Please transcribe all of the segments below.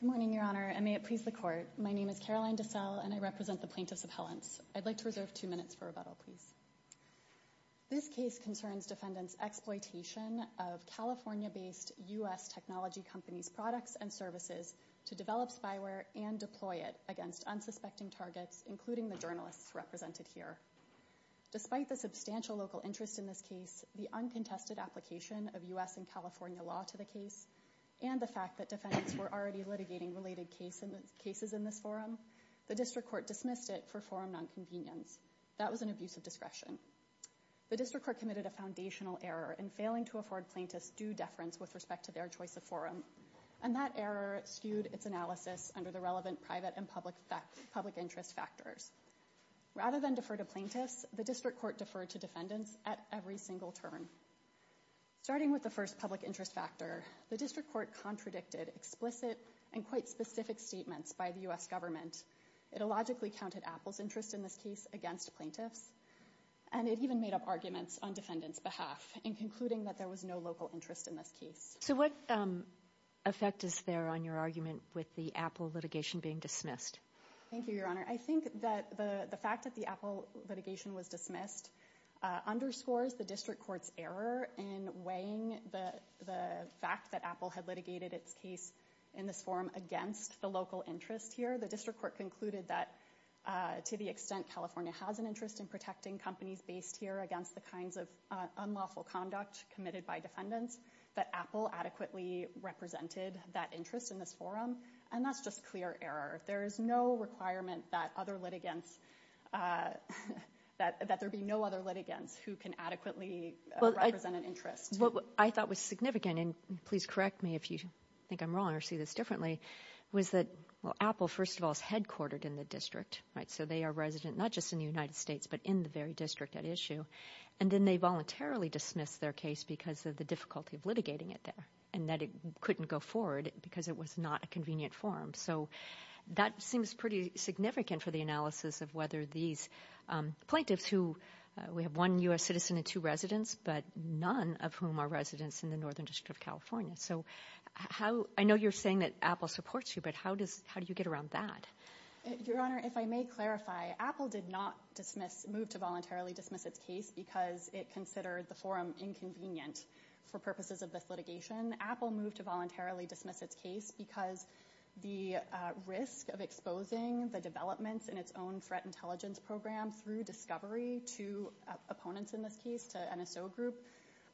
Good morning, Your Honor, and may it please the Court. My name is Caroline DeSalle, and I represent the plaintiffs' appellants. I'd like to reserve two minutes for rebuttal, please. This case concerns defendants' exploitation of California-based U.S. technology companies' products and services to develop spyware and deploy it against unsuspecting targets, including the journalists represented here. Despite the substantial local interest in this case, the uncontested application of U.S. and California law to the case, and the fact that defendants were already litigating related cases in this forum, the District Court dismissed it for forum nonconvenience. That was an abuse of discretion. The District Court committed a foundational error in failing to afford plaintiffs due to deference with respect to their choice of forum, and that error skewed its analysis under the relevant private and public interest factors. Rather than defer to plaintiffs, the District Court deferred to defendants at every single turn. Starting with the first public interest factor, the District Court contradicted explicit and quite specific statements by the U.S. government. It illogically counted Apple's interest in this case against plaintiffs, and it even made up arguments on defendants' behalf in concluding that there was no local interest in this case. So what effect is there on your argument with the Apple litigation being dismissed? Thank you, Your Honor. I think that the fact that the Apple litigation was dismissed underscores the District Court's error in weighing the fact that Apple had litigated its case in this forum against the local interest here. The District Court concluded that, to the extent California has an interest in protecting companies based here against the kinds of unlawful conduct committed by defendants, that Apple adequately represented that interest in this forum, and that's just clear error. There's no requirement that other litigants, that there be no other litigants who can adequately represent an interest. I thought was significant, and please correct me if you think I'm wrong or see this differently, was that Apple, first of all, is headquartered in the District, so they are resident not just in the United States, but in the very district at issue, and then they voluntarily dismissed their case because of the difficulty of litigating it there, and that it couldn't go forward because it was not a convenient forum. So that seems pretty significant for the analysis of whether these plaintiffs who, we have one U.S. citizen and two residents, but none of whom are residents in the Northern District of California. So how, I know you're saying that Apple supports you, but how do you get around that? Your Honor, if I may clarify, Apple did not move to voluntarily dismiss its case because it considered the forum inconvenient for purposes of this litigation. Apple moved to voluntarily dismiss its case because the risk of exposing the developments in its own threat intelligence program through discovery to opponents in this case, to NSO group,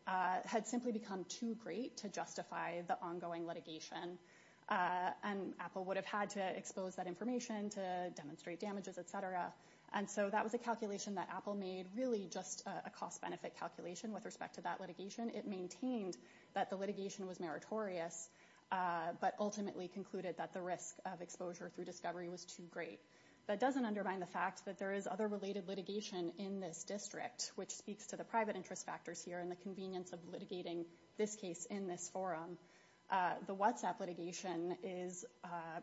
had simply become too great to justify the ongoing litigation, and Apple would have had to expose that information to demonstrate damages, et cetera. And so that was a calculation that Apple made, really just a cost-benefit calculation with respect to that litigation. It maintained that the litigation was meritorious, but ultimately concluded that the risk of exposure through discovery was too great. That doesn't undermine the fact that there is other related litigation in this District, which speaks to the private interest factors here and the convenience of litigating this case in this forum. The WhatsApp litigation is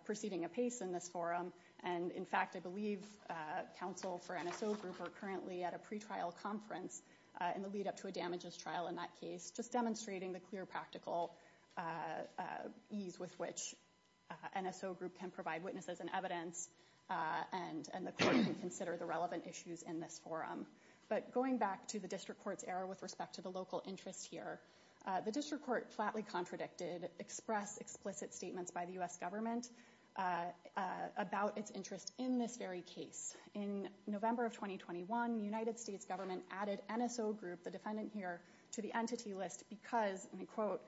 proceeding apace in this forum, and in fact, I believe counsel for NSO group are currently at a pretrial conference in the lead-up to a damages trial in that case, just demonstrating the clear practical ease with which NSO group can provide witnesses and evidence, and the court can consider the relevant issues in this forum. But going back to the District Court's error with respect to the local interest here, the District Court flatly contradicted express explicit statements by the U.S. government about its interest in this very case. In November of 2021, the United States government added NSO group, the defendant here, to the entity list because, and I quote,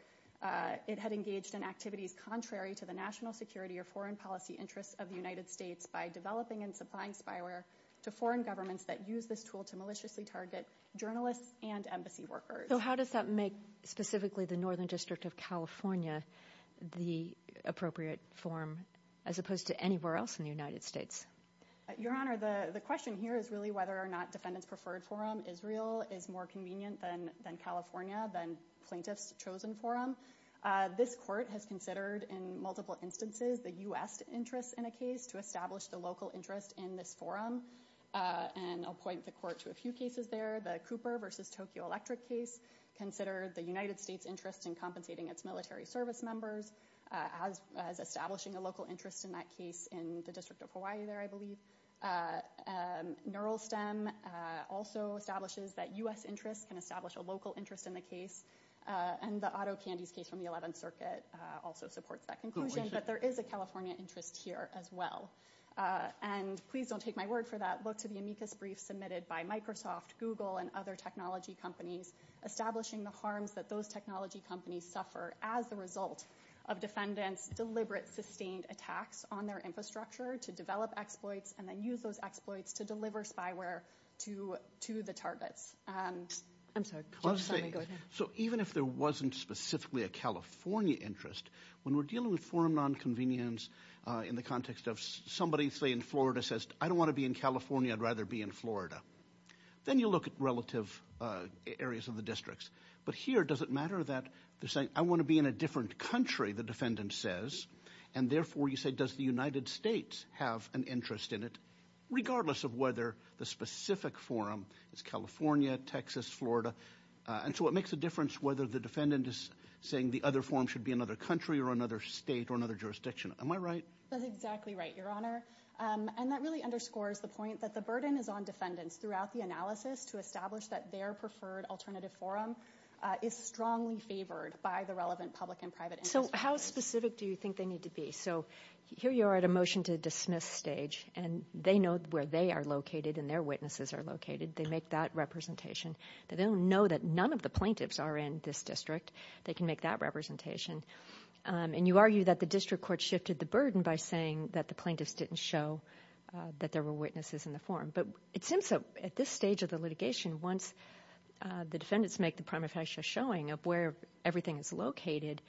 it had engaged in activities contrary to the national security or foreign policy interests of the United States by developing and supplying spyware to foreign governments that use this tool to maliciously target journalists and embassy workers. So how does that make specifically the Northern District of California the appropriate forum as opposed to anywhere else in the United States? Your Honor, the question here is really whether or not Defendant's Preferred Forum Israel is more convenient than California, than Plaintiff's Chosen Forum. This court has considered in multiple instances the U.S. interest in a case to establish the local interest in this forum, and I'll point the court to a few cases there, the Cooper versus Tokyo Electric case, considered the United States interest in compensating its military service members as establishing a local interest in that case in the District of Hawaii there, I believe. NeuralSTEM also establishes that U.S. interests can establish a local interest in the case, and the Otto Candies case from the 11th Circuit also supports that conclusion, but there is a California interest here as well. And please don't take my word for that, look to the amicus brief submitted by Microsoft, Google, and other technology companies establishing the harms that those technology companies suffer as a result of Defendant's deliberate sustained attacks on their infrastructure to develop exploits and then use those exploits to deliver spyware to the targets. I'm sorry, go ahead. So even if there wasn't specifically a California interest, when we're dealing with forum nonconvenience in the context of somebody, say, in Florida says, I don't want to be in California, I'd rather be in Florida, then you look at relative areas of the districts, but here does it matter that they're saying, I want to be in a different country, the defendant says, and therefore you say, does the United States have an interest in it, regardless of whether the specific forum is California, Texas, Florida, and so it makes a difference whether the defendant is saying the other forum should be another country or another state or another jurisdiction. Am I right? That's exactly right, Your Honor, and that really underscores the point that the burden is on defendants throughout the analysis to establish that their preferred alternative forum is strongly favored by the relevant public and private interest groups. So how specific do you think they need to be? So here you are at a motion to dismiss stage, and they know where they are located and their witnesses are located, they make that representation, they don't know that none of the plaintiffs are in this district, they can make that representation, and you argue that the district court shifted the burden by saying that the plaintiffs didn't show that there were witnesses in the forum, but it seems at this stage of the litigation, once the defendants make the prima facie showing of where everything is located,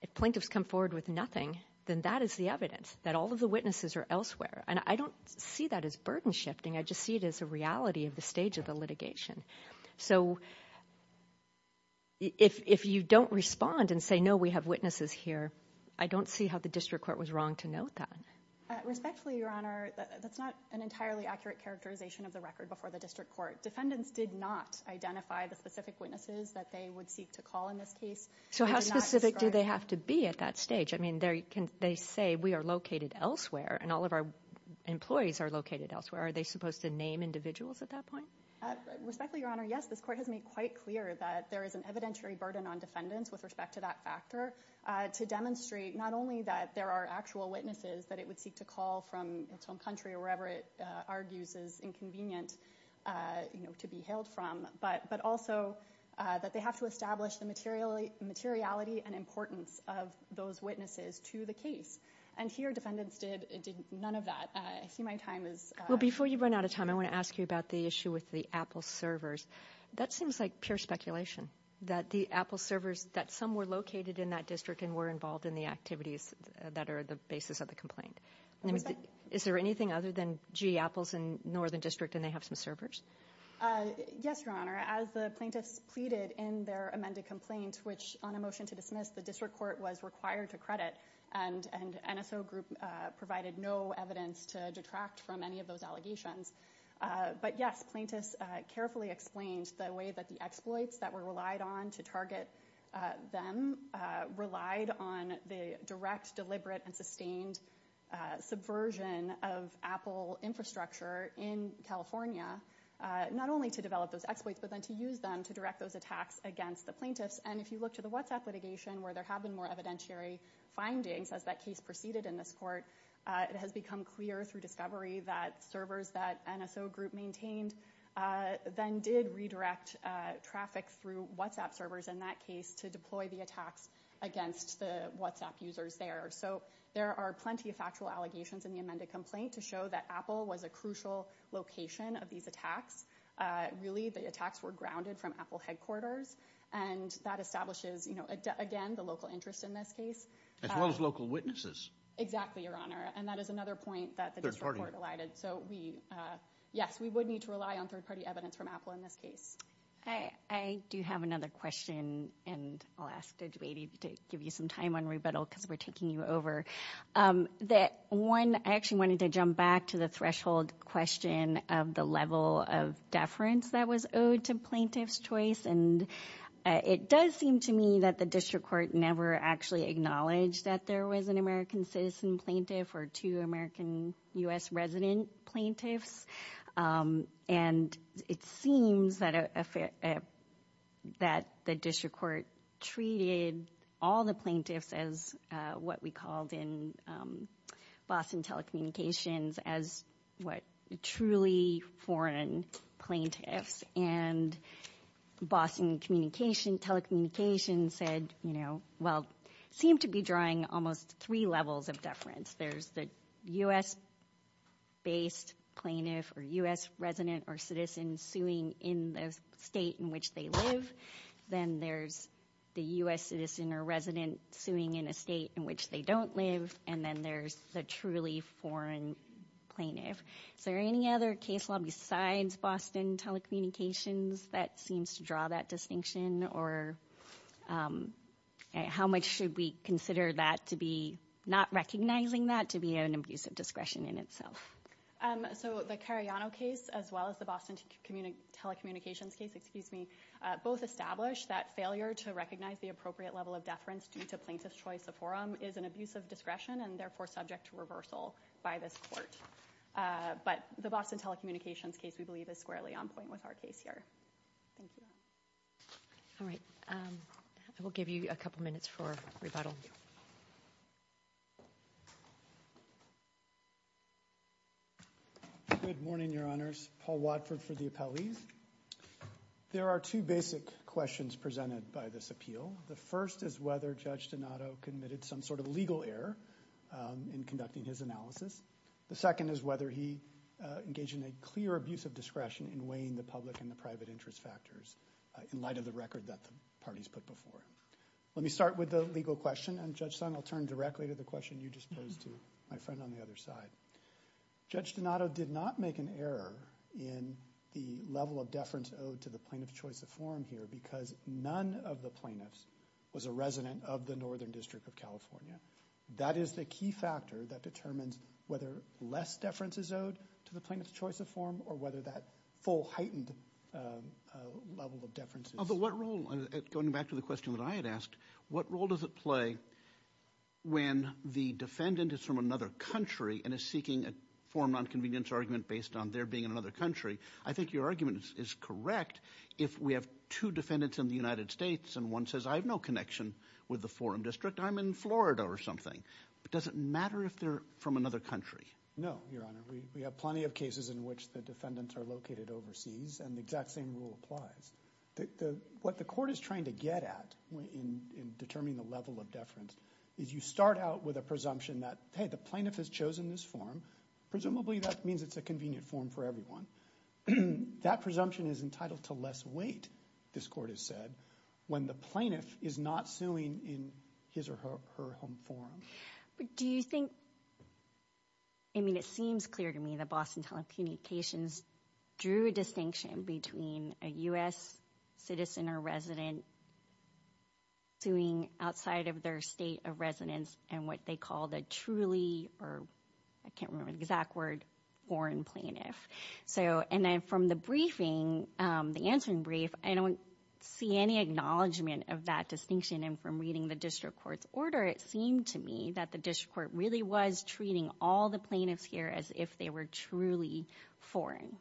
if plaintiffs come forward with nothing, then that is the evidence that all of the witnesses are elsewhere, and I don't see that as burden shifting, I just see it as a reality of the stage of the litigation. So if you don't respond and say, no, we have witnesses here, I don't see how the district court was wrong to note that. Respectfully, Your Honor, that's not an entirely accurate characterization of the record before the district court. Defendants did not identify the specific witnesses that they would seek to call in this case. So how specific do they have to be at that stage? I mean, they say we are located elsewhere, and all of our employees are located elsewhere. Are they supposed to name individuals at that point? Respectfully, Your Honor, yes, this court has made quite clear that there is an evidentiary burden on defendants with respect to that factor to demonstrate not only that there are actual witnesses that it would seek to call from its own country or wherever it argues is inconvenient to be hailed from, but also that they have to establish the materiality and importance of those witnesses to the case. And here, defendants did none of that. I see my time is up. Well, before you run out of time, I want to ask you about the issue with the Apple servers. That seems like pure speculation, that the Apple servers, that some were located in that district and were involved in the activities that are the basis of the complaint. Is there anything other than, gee, Apple's in Northern District and they have some servers? Yes, Your Honor, as the plaintiffs pleaded in their amended complaint, which on a motion to dismiss, the district court was required to credit, and NSO group provided no evidence to detract from any of those allegations. But yes, plaintiffs carefully explained the way that the exploits that were relied on to target them relied on the direct, deliberate, and sustained subversion of Apple infrastructure in California, not only to develop those exploits, but then to use them to direct those attacks against the plaintiffs. And if you look to the WhatsApp litigation, where there have been more evidentiary findings as that case proceeded in this court, it has become clear through discovery that servers that NSO group maintained then did redirect traffic through WhatsApp servers in that case to deploy the attacks against the WhatsApp users there. So there are plenty of factual allegations in the amended complaint to show that Apple was a crucial location of these attacks. Really, the attacks were grounded from Apple headquarters, and that establishes, again, the local interest in this case. As well as local witnesses. Exactly, Your Honor. And that is another point that the district court elided. So we, yes, we would need to rely on third-party evidence from Apple in this case. I do have another question, and I'll ask Judge Beatty to give you some time on rebuttal, because we're taking you over. That one, I actually wanted to jump back to the threshold question of the level of deference that was owed to plaintiffs' choice. And it does seem to me that the district court never actually acknowledged that there was an American citizen plaintiff or two American U.S. resident plaintiffs. And it seems that the district court treated all the plaintiffs as what we called in Boston telecommunications as, what, truly foreign plaintiffs. And Boston telecommunications said, well, it seemed to be drawing almost three levels of deference. There's the U.S.-based plaintiff or U.S. resident or citizen suing in the state in which they live. Then there's the U.S. citizen or resident suing in a state in which they don't live. And then there's the truly foreign plaintiff. Is there any other case law besides Boston telecommunications that seems to draw that distinction? Or how much should we consider that to be not recognizing that to be an abuse of discretion in itself? So the Cariano case, as well as the Boston telecommunications case, both establish that failure to recognize the appropriate level of deference due to plaintiff's choice of is an abuse of discretion and, therefore, subject to reversal by this court. But the Boston telecommunications case, we believe, is squarely on point with our case here. Thank you. All right. I will give you a couple minutes for rebuttal. Good morning, Your Honors. Paul Watford for the appellees. There are two basic questions presented by this appeal. The first is whether Judge Donato committed some sort of legal error in conducting his analysis. The second is whether he engaged in a clear abuse of discretion in weighing the public and the private interest factors in light of the record that the parties put before. Let me start with the legal question. And Judge Sun, I'll turn directly to the question you just posed to my friend on the other side. Judge Donato did not make an error in the level of deference owed to the plaintiff's choice of form here because none of the plaintiffs was a resident of the Northern District of California. That is the key factor that determines whether less deference is owed to the plaintiff's choice of form or whether that full heightened level of deference is owed. But what role, going back to the question that I had asked, what role does it play when the defendant is from another country and is seeking a form of nonconvenience argument based on their being in another country? I think your argument is correct if we have two defendants in the United States and one says I have no connection with the forum district, I'm in Florida or something. But does it matter if they're from another country? No, Your Honor. We have plenty of cases in which the defendants are located overseas and the exact same rule applies. What the court is trying to get at in determining the level of deference is you start out with a presumption that, hey, the plaintiff has chosen this form, presumably that means it's a convenient form for everyone. That presumption is entitled to less weight, this court has said, when the plaintiff is not suing in his or her home forum. Do you think, I mean it seems clear to me that Boston Telecommunications drew a distinction between a U.S. citizen or resident suing outside of their state of residence and what they call the truly or I can't remember the exact word, foreign plaintiff. So and then from the briefing, the answering brief, I don't see any acknowledgment of that distinction and from reading the district court's order, it seemed to me that the district court really was treating all the plaintiffs here as if they were truly foreign.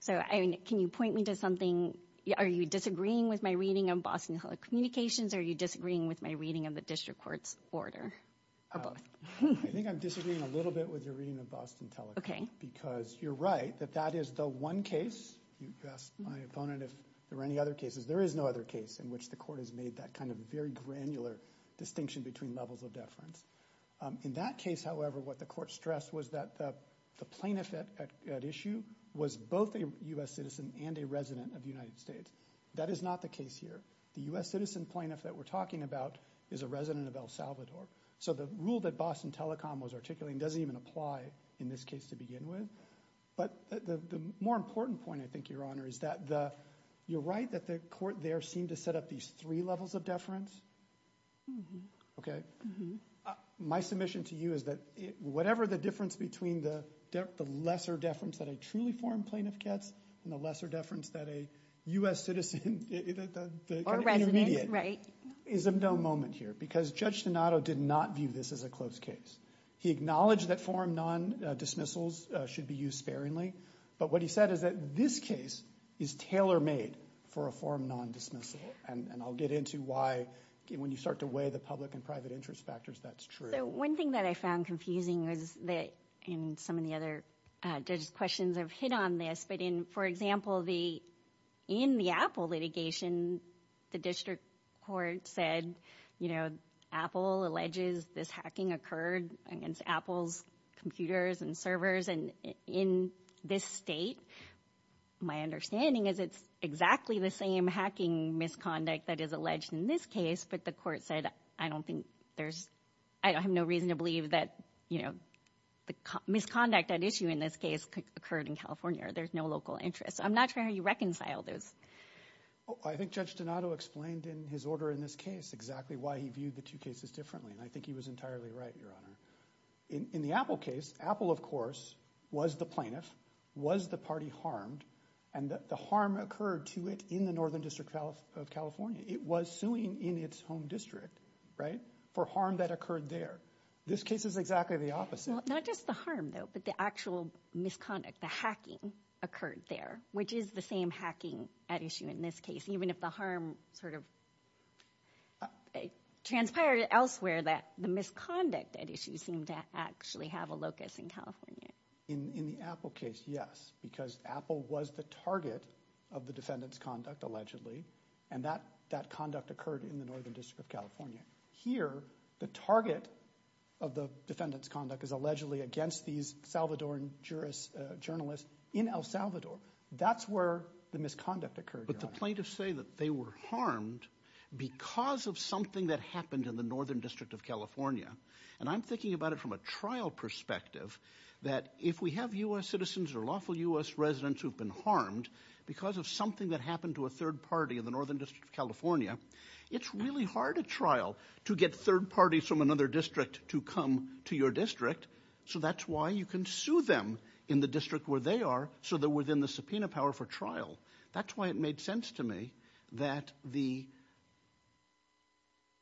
So can you point me to something, are you disagreeing with my reading of Boston Telecommunications or are you disagreeing with my reading of the district court's order? Or both? I think I'm disagreeing a little bit with your reading of Boston Telecom because you're right that that is the one case, you asked my opponent if there were any other cases, there is no other case in which the court has made that kind of very granular distinction between levels of deference. In that case, however, what the court stressed was that the plaintiff at issue was both a U.S. citizen and a resident of the United States. That is not the case here. The U.S. citizen plaintiff that we're talking about is a resident of El Salvador. So the rule that Boston Telecom was articulating doesn't even apply in this case to begin with. But the more important point, I think, Your Honor, is that the, you're right that the court there seemed to set up these three levels of deference, okay? My submission to you is that whatever the difference between the lesser deference that a truly foreign plaintiff gets and the lesser deference that a U.S. citizen, the kind of intermediate, is of no moment here because Judge Donato did not view this as a closed case. He acknowledged that foreign non-dismissals should be used sparingly. But what he said is that this case is tailor-made for a foreign non-dismissal. And I'll get into why, when you start to weigh the public and private interest factors, that's true. So one thing that I found confusing was that, and some of the other judge's questions have hit on this, but in, for example, the, in the Apple litigation, the district court said, you know, Apple alleges this hacking occurred against Apple's computers and servers. And in this state, my understanding is it's exactly the same hacking misconduct that is alleged in this case, but the court said, I don't think there's, I have no reason to believe that, you know, the misconduct at issue in this case occurred in California or there's no local interest. I'm not sure how you reconcile those. I think Judge Donato explained in his order in this case exactly why he viewed the two cases differently. And I think he was entirely right, Your Honor. In the Apple case, Apple, of course, was the plaintiff, was the party harmed, and the harm occurred to it in the Northern District of California. It was suing in its home district, right, for harm that occurred there. This case is exactly the opposite. Well, not just the harm, though, but the actual misconduct, the hacking occurred there, which is the same hacking at issue in this case, even if the harm sort of transpired elsewhere that the misconduct at issue seemed to actually have a locus in California. In the Apple case, yes, because Apple was the target of the defendant's conduct, allegedly, and that conduct occurred in the Northern District of California. Here, the target of the defendant's conduct is allegedly against these Salvadoran journalists in El Salvador. That's where the misconduct occurred, Your Honor. But the plaintiffs say that they were harmed because of something that happened in the Northern District of California. And I'm thinking about it from a trial perspective, that if we have U.S. citizens or lawful U.S. party in the Northern District of California, it's really hard at trial to get third parties from another district to come to your district. So that's why you can sue them in the district where they are so they're within the subpoena power for trial. That's why it made sense to me that the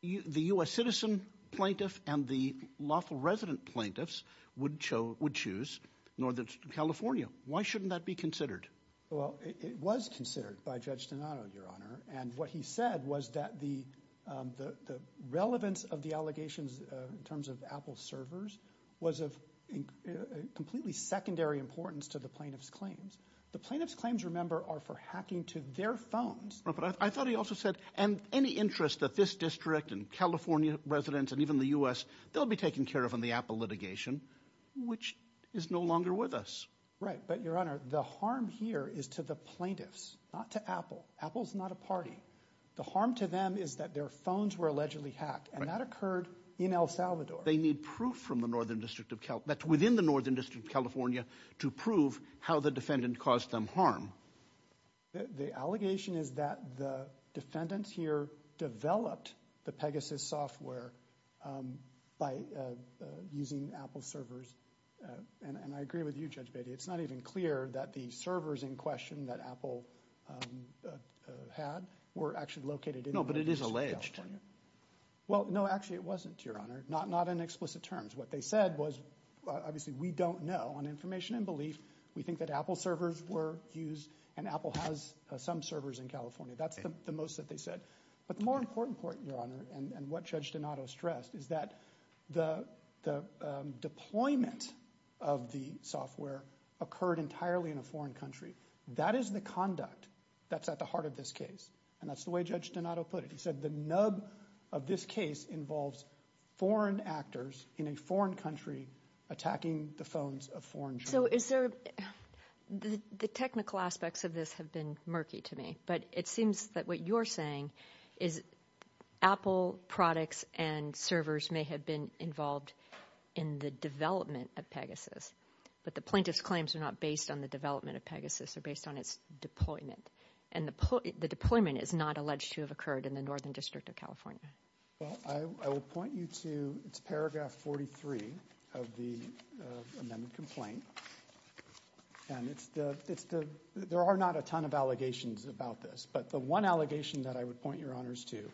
U.S. citizen plaintiff and the lawful resident plaintiffs would choose Northern District of California. Why shouldn't that be considered? Well, it was considered by Judge Donato, Your Honor. And what he said was that the relevance of the allegations in terms of Apple servers was of completely secondary importance to the plaintiff's claims. The plaintiff's claims, remember, are for hacking to their phones. But I thought he also said, and any interest that this district and California residents and even the U.S., they'll be taken care of in the Apple litigation, which is no longer with us. Right. But, Your Honor, the harm here is to the plaintiffs, not to Apple. Apple's not a party. The harm to them is that their phones were allegedly hacked, and that occurred in El Salvador. They need proof from the Northern District of California, that's within the Northern District of California, to prove how the defendant caused them harm. The allegation is that the defendants here developed the Pegasus software by using Apple servers. And I agree with you, Judge Beatty. It's not even clear that the servers in question that Apple had were actually located in the No, but it is alleged. Well, no, actually it wasn't, Your Honor. Not in explicit terms. What they said was, obviously, we don't know. On information and belief, we think that Apple servers were used, and Apple has some servers in California. That's the most that they said. But the more important part, Your Honor, and what Judge Donato stressed, is that the deployment of the software occurred entirely in a foreign country. That is the conduct that's at the heart of this case, and that's the way Judge Donato put it. He said the nub of this case involves foreign actors in a foreign country attacking the phones of foreign journalists. So is there, the technical aspects of this have been murky to me, but it seems that what you're saying is Apple products and servers may have been involved in the development of Pegasus, but the plaintiff's claims are not based on the development of Pegasus. They're based on its deployment, and the deployment is not alleged to have occurred in the Northern District of California. Well, I will point you to, it's paragraph 43 of the amendment complaint, and it's the, there are not a ton of allegations about this, but the one allegation that I would point Your Honors to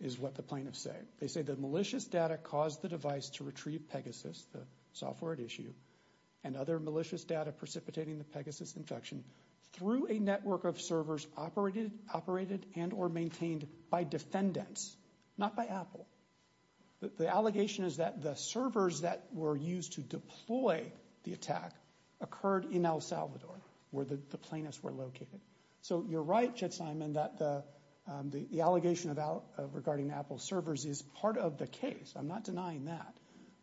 is what the plaintiffs say. They say the malicious data caused the device to retrieve Pegasus, the software at issue, and other malicious data precipitating the Pegasus infection through a network of servers operated and or maintained by defendants, not by Apple. The allegation is that the servers that were used to deploy the attack occurred in El Salvador, where the plaintiffs were located. So you're right, Judge Simon, that the allegation regarding Apple servers is part of the case. I'm not denying that,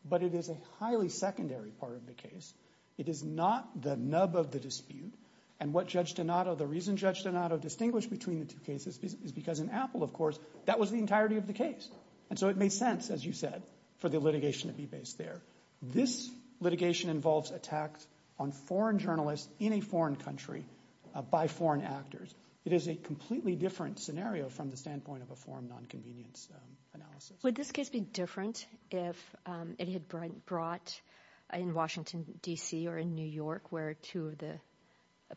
but it is a highly secondary part of the case. It is not the nub of the dispute, and what Judge Donato, the reason Judge Donato distinguished between the two cases is because in Apple, of course, that was the entirety of the case. And so it made sense, as you said, for the litigation to be based there. This litigation involves attacks on foreign journalists in a foreign country by foreign actors. It is a completely different scenario from the standpoint of a foreign non-convenience analysis. Would this case be different if it had been brought in Washington, D.C. or in New York, where two of the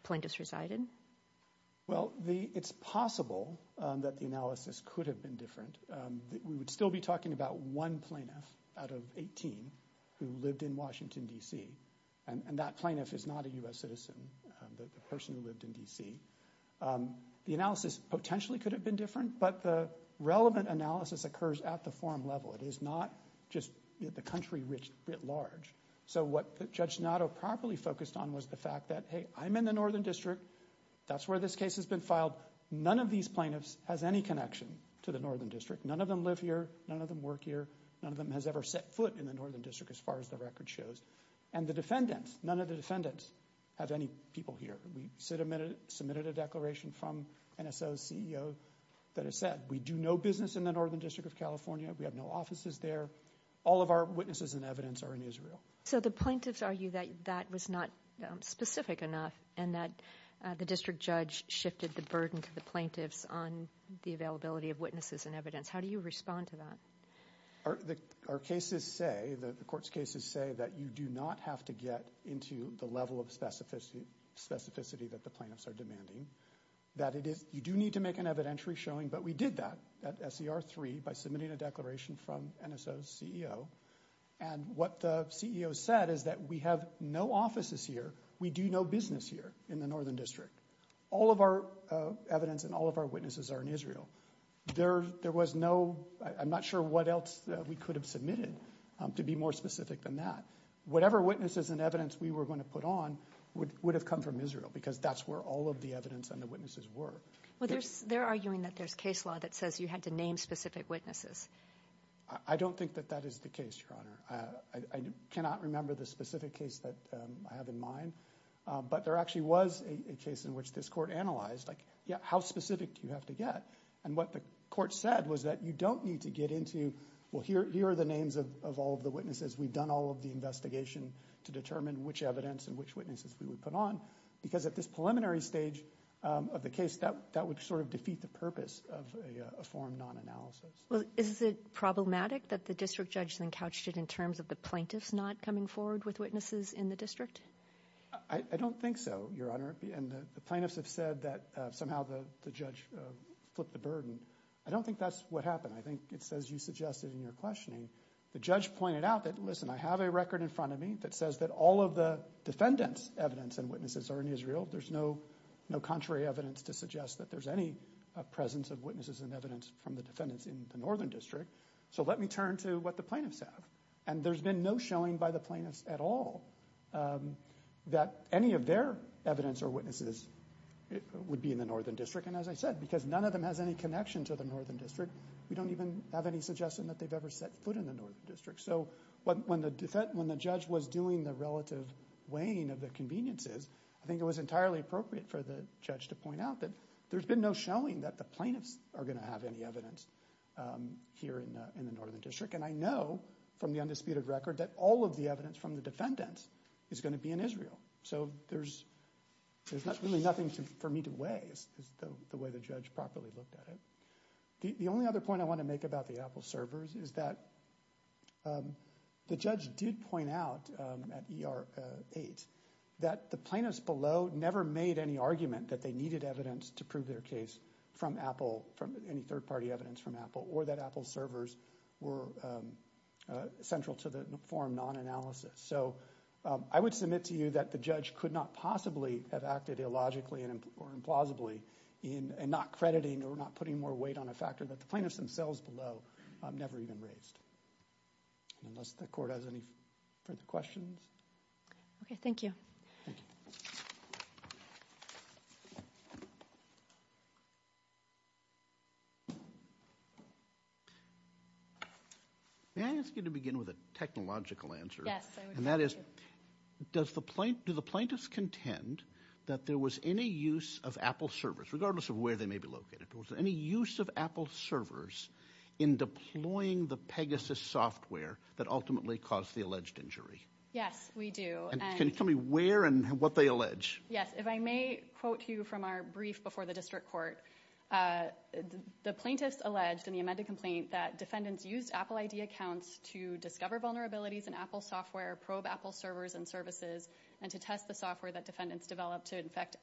plaintiffs resided? Well, it's possible that the analysis could have been different. We would still be talking about one plaintiff out of 18 who lived in Washington, D.C., and that plaintiff is not a U.S. citizen, the person who lived in D.C. The analysis potentially could have been different, but the relevant analysis occurs at the forum level. It is not just the country writ large. So what Judge Donato properly focused on was the fact that, hey, I'm in the Northern District. That's where this case has been filed. None of these plaintiffs has any connection to the Northern District. None of them live here. None of them work here. None of them has ever set foot in the Northern District, as far as the record shows. And the defendants, none of the defendants have any people here. We submitted a declaration from NSO's CEO that has said, we do no business in the Northern District of California. We have no offices there. All of our witnesses and evidence are in Israel. So the plaintiffs argue that that was not specific enough and that the district judge shifted the burden to the plaintiffs on the availability of witnesses and evidence. How do you respond to that? Our cases say, the court's cases say, that you do not have to get into the level of specificity that the plaintiffs are demanding. That it is, you do need to make an evidentiary showing, but we did that at SER 3 by submitting a declaration from NSO's CEO. And what the CEO said is that we have no offices here. We do no business here in the Northern District. All of our evidence and all of our witnesses are in Israel. There was no, I'm not sure what else we could have submitted to be more specific than that. Whatever witnesses and evidence we were going to put on would have come from Israel because that's where all of the evidence and the witnesses were. Well, they're arguing that there's case law that says you had to name specific witnesses. I don't think that that is the case, Your Honor. I cannot remember the specific case that I have in mind, but there actually was a case in which this court analyzed, like, yeah, how specific do you have to get? And what the court said was that you don't need to get into, well, here are the names of all of the witnesses. We've done all of the investigation to determine which evidence and which witnesses we would put on. Because at this preliminary stage of the case, that would sort of defeat the purpose of a form non-analysis. Well, is it problematic that the district judge then couched it in terms of the plaintiffs not coming forward with witnesses in the district? I don't think so, Your Honor, and the plaintiffs have said that somehow the judge flipped the burden. I don't think that's what happened. I think it's as you suggested in your questioning. The judge pointed out that, listen, I have a record in front of me that says that all of the defendant's evidence and witnesses are in Israel. There's no contrary evidence to suggest that there's any presence of witnesses and evidence from the defendants in the Northern District. So let me turn to what the plaintiffs have. And there's been no showing by the plaintiffs at all that any of their evidence or witnesses would be in the Northern District. And as I said, because none of them has any connection to the Northern District, we don't even have any suggestion that they've ever set foot in the Northern District. So when the judge was doing the relative weighing of the conveniences, I think it was entirely appropriate for the judge to point out that there's been no showing that the plaintiffs are going to have any evidence here in the Northern District. And I know from the undisputed record that all of the evidence from the defendants is going to be in Israel. So there's really nothing for me to weigh is the way the judge properly looked at it. The only other point I want to make about the Apple servers is that the judge did point out at ER 8 that the plaintiffs below never made any argument that they needed evidence to prove their case from Apple, from any third party evidence from Apple, or that Apple servers were central to the form non-analysis. So I would submit to you that the judge could not possibly have acted illogically or implausibly in not crediting or not putting more weight on a factor that the plaintiffs themselves below never even raised. Unless the court has any further questions. Okay, thank you. May I ask you to begin with a technological answer? Yes. And that is, do the plaintiffs contend that there was any use of Apple servers, regardless of where they may be located, was there any use of Apple servers in deploying the Pegasus software that ultimately caused the alleged injury? Yes, we do. And can you tell me where and what they allege? Yes. If I may quote you from our brief before the district court, the plaintiffs alleged in the amended complaint that defendants used Apple ID accounts to discover vulnerabilities in Apple software, probe Apple servers and services, and to test the software that defendants developed to infect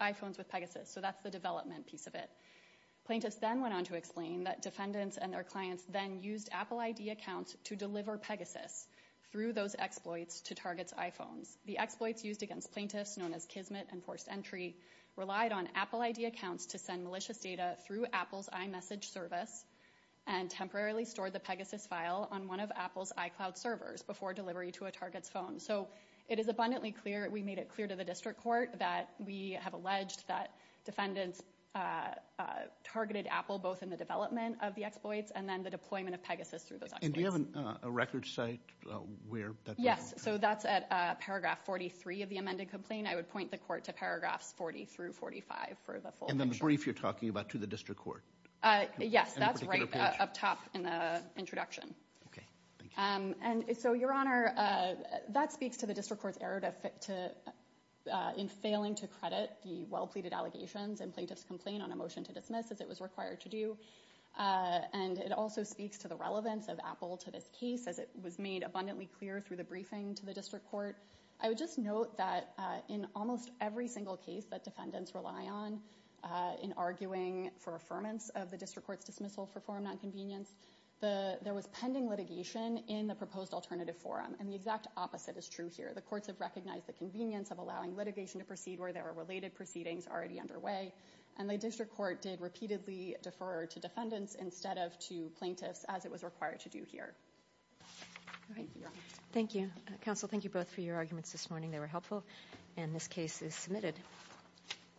iPhones with Pegasus. So that's the development piece of it. Plaintiffs then went on to explain that defendants and their clients then used Apple ID accounts to deliver Pegasus through those exploits to target iPhones. The exploits used against plaintiffs, known as Kismet and forced entry, relied on Apple ID accounts to send malicious data through Apple's iMessage service and temporarily stored the Pegasus file on one of Apple's iCloud servers before delivery to a target's phone. So it is abundantly clear, we made it clear to the district court that we have alleged that defendants targeted Apple both in the development of the exploits and then the deployment of Pegasus through those exploits. And do you have a record site where that was? Yes. So that's at paragraph 43 of the amended complaint. I would point the court to paragraphs 40 through 45 for the full picture. And the brief you're talking about to the district court? Yes. That's right up top in the introduction. Okay. Thank you. And so, Your Honor, that speaks to the district court's error to, in failing to credit the well-pleaded allegations and plaintiff's complaint on a motion to dismiss as it was required to do. And it also speaks to the relevance of Apple to this case as it was made abundantly clear through the briefing to the district court. I would just note that in almost every single case that defendants rely on in arguing for affirmance of the district court's dismissal for forum nonconvenience, there was pending litigation in the proposed alternative forum. And the exact opposite is true here. The courts have recognized the convenience of allowing litigation to proceed where there are related proceedings already underway. And the district court did repeatedly defer to defendants instead of to plaintiffs as it was required to do here. All right. Thank you. Counsel, thank you both for your arguments this morning. They were helpful. And this case is submitted.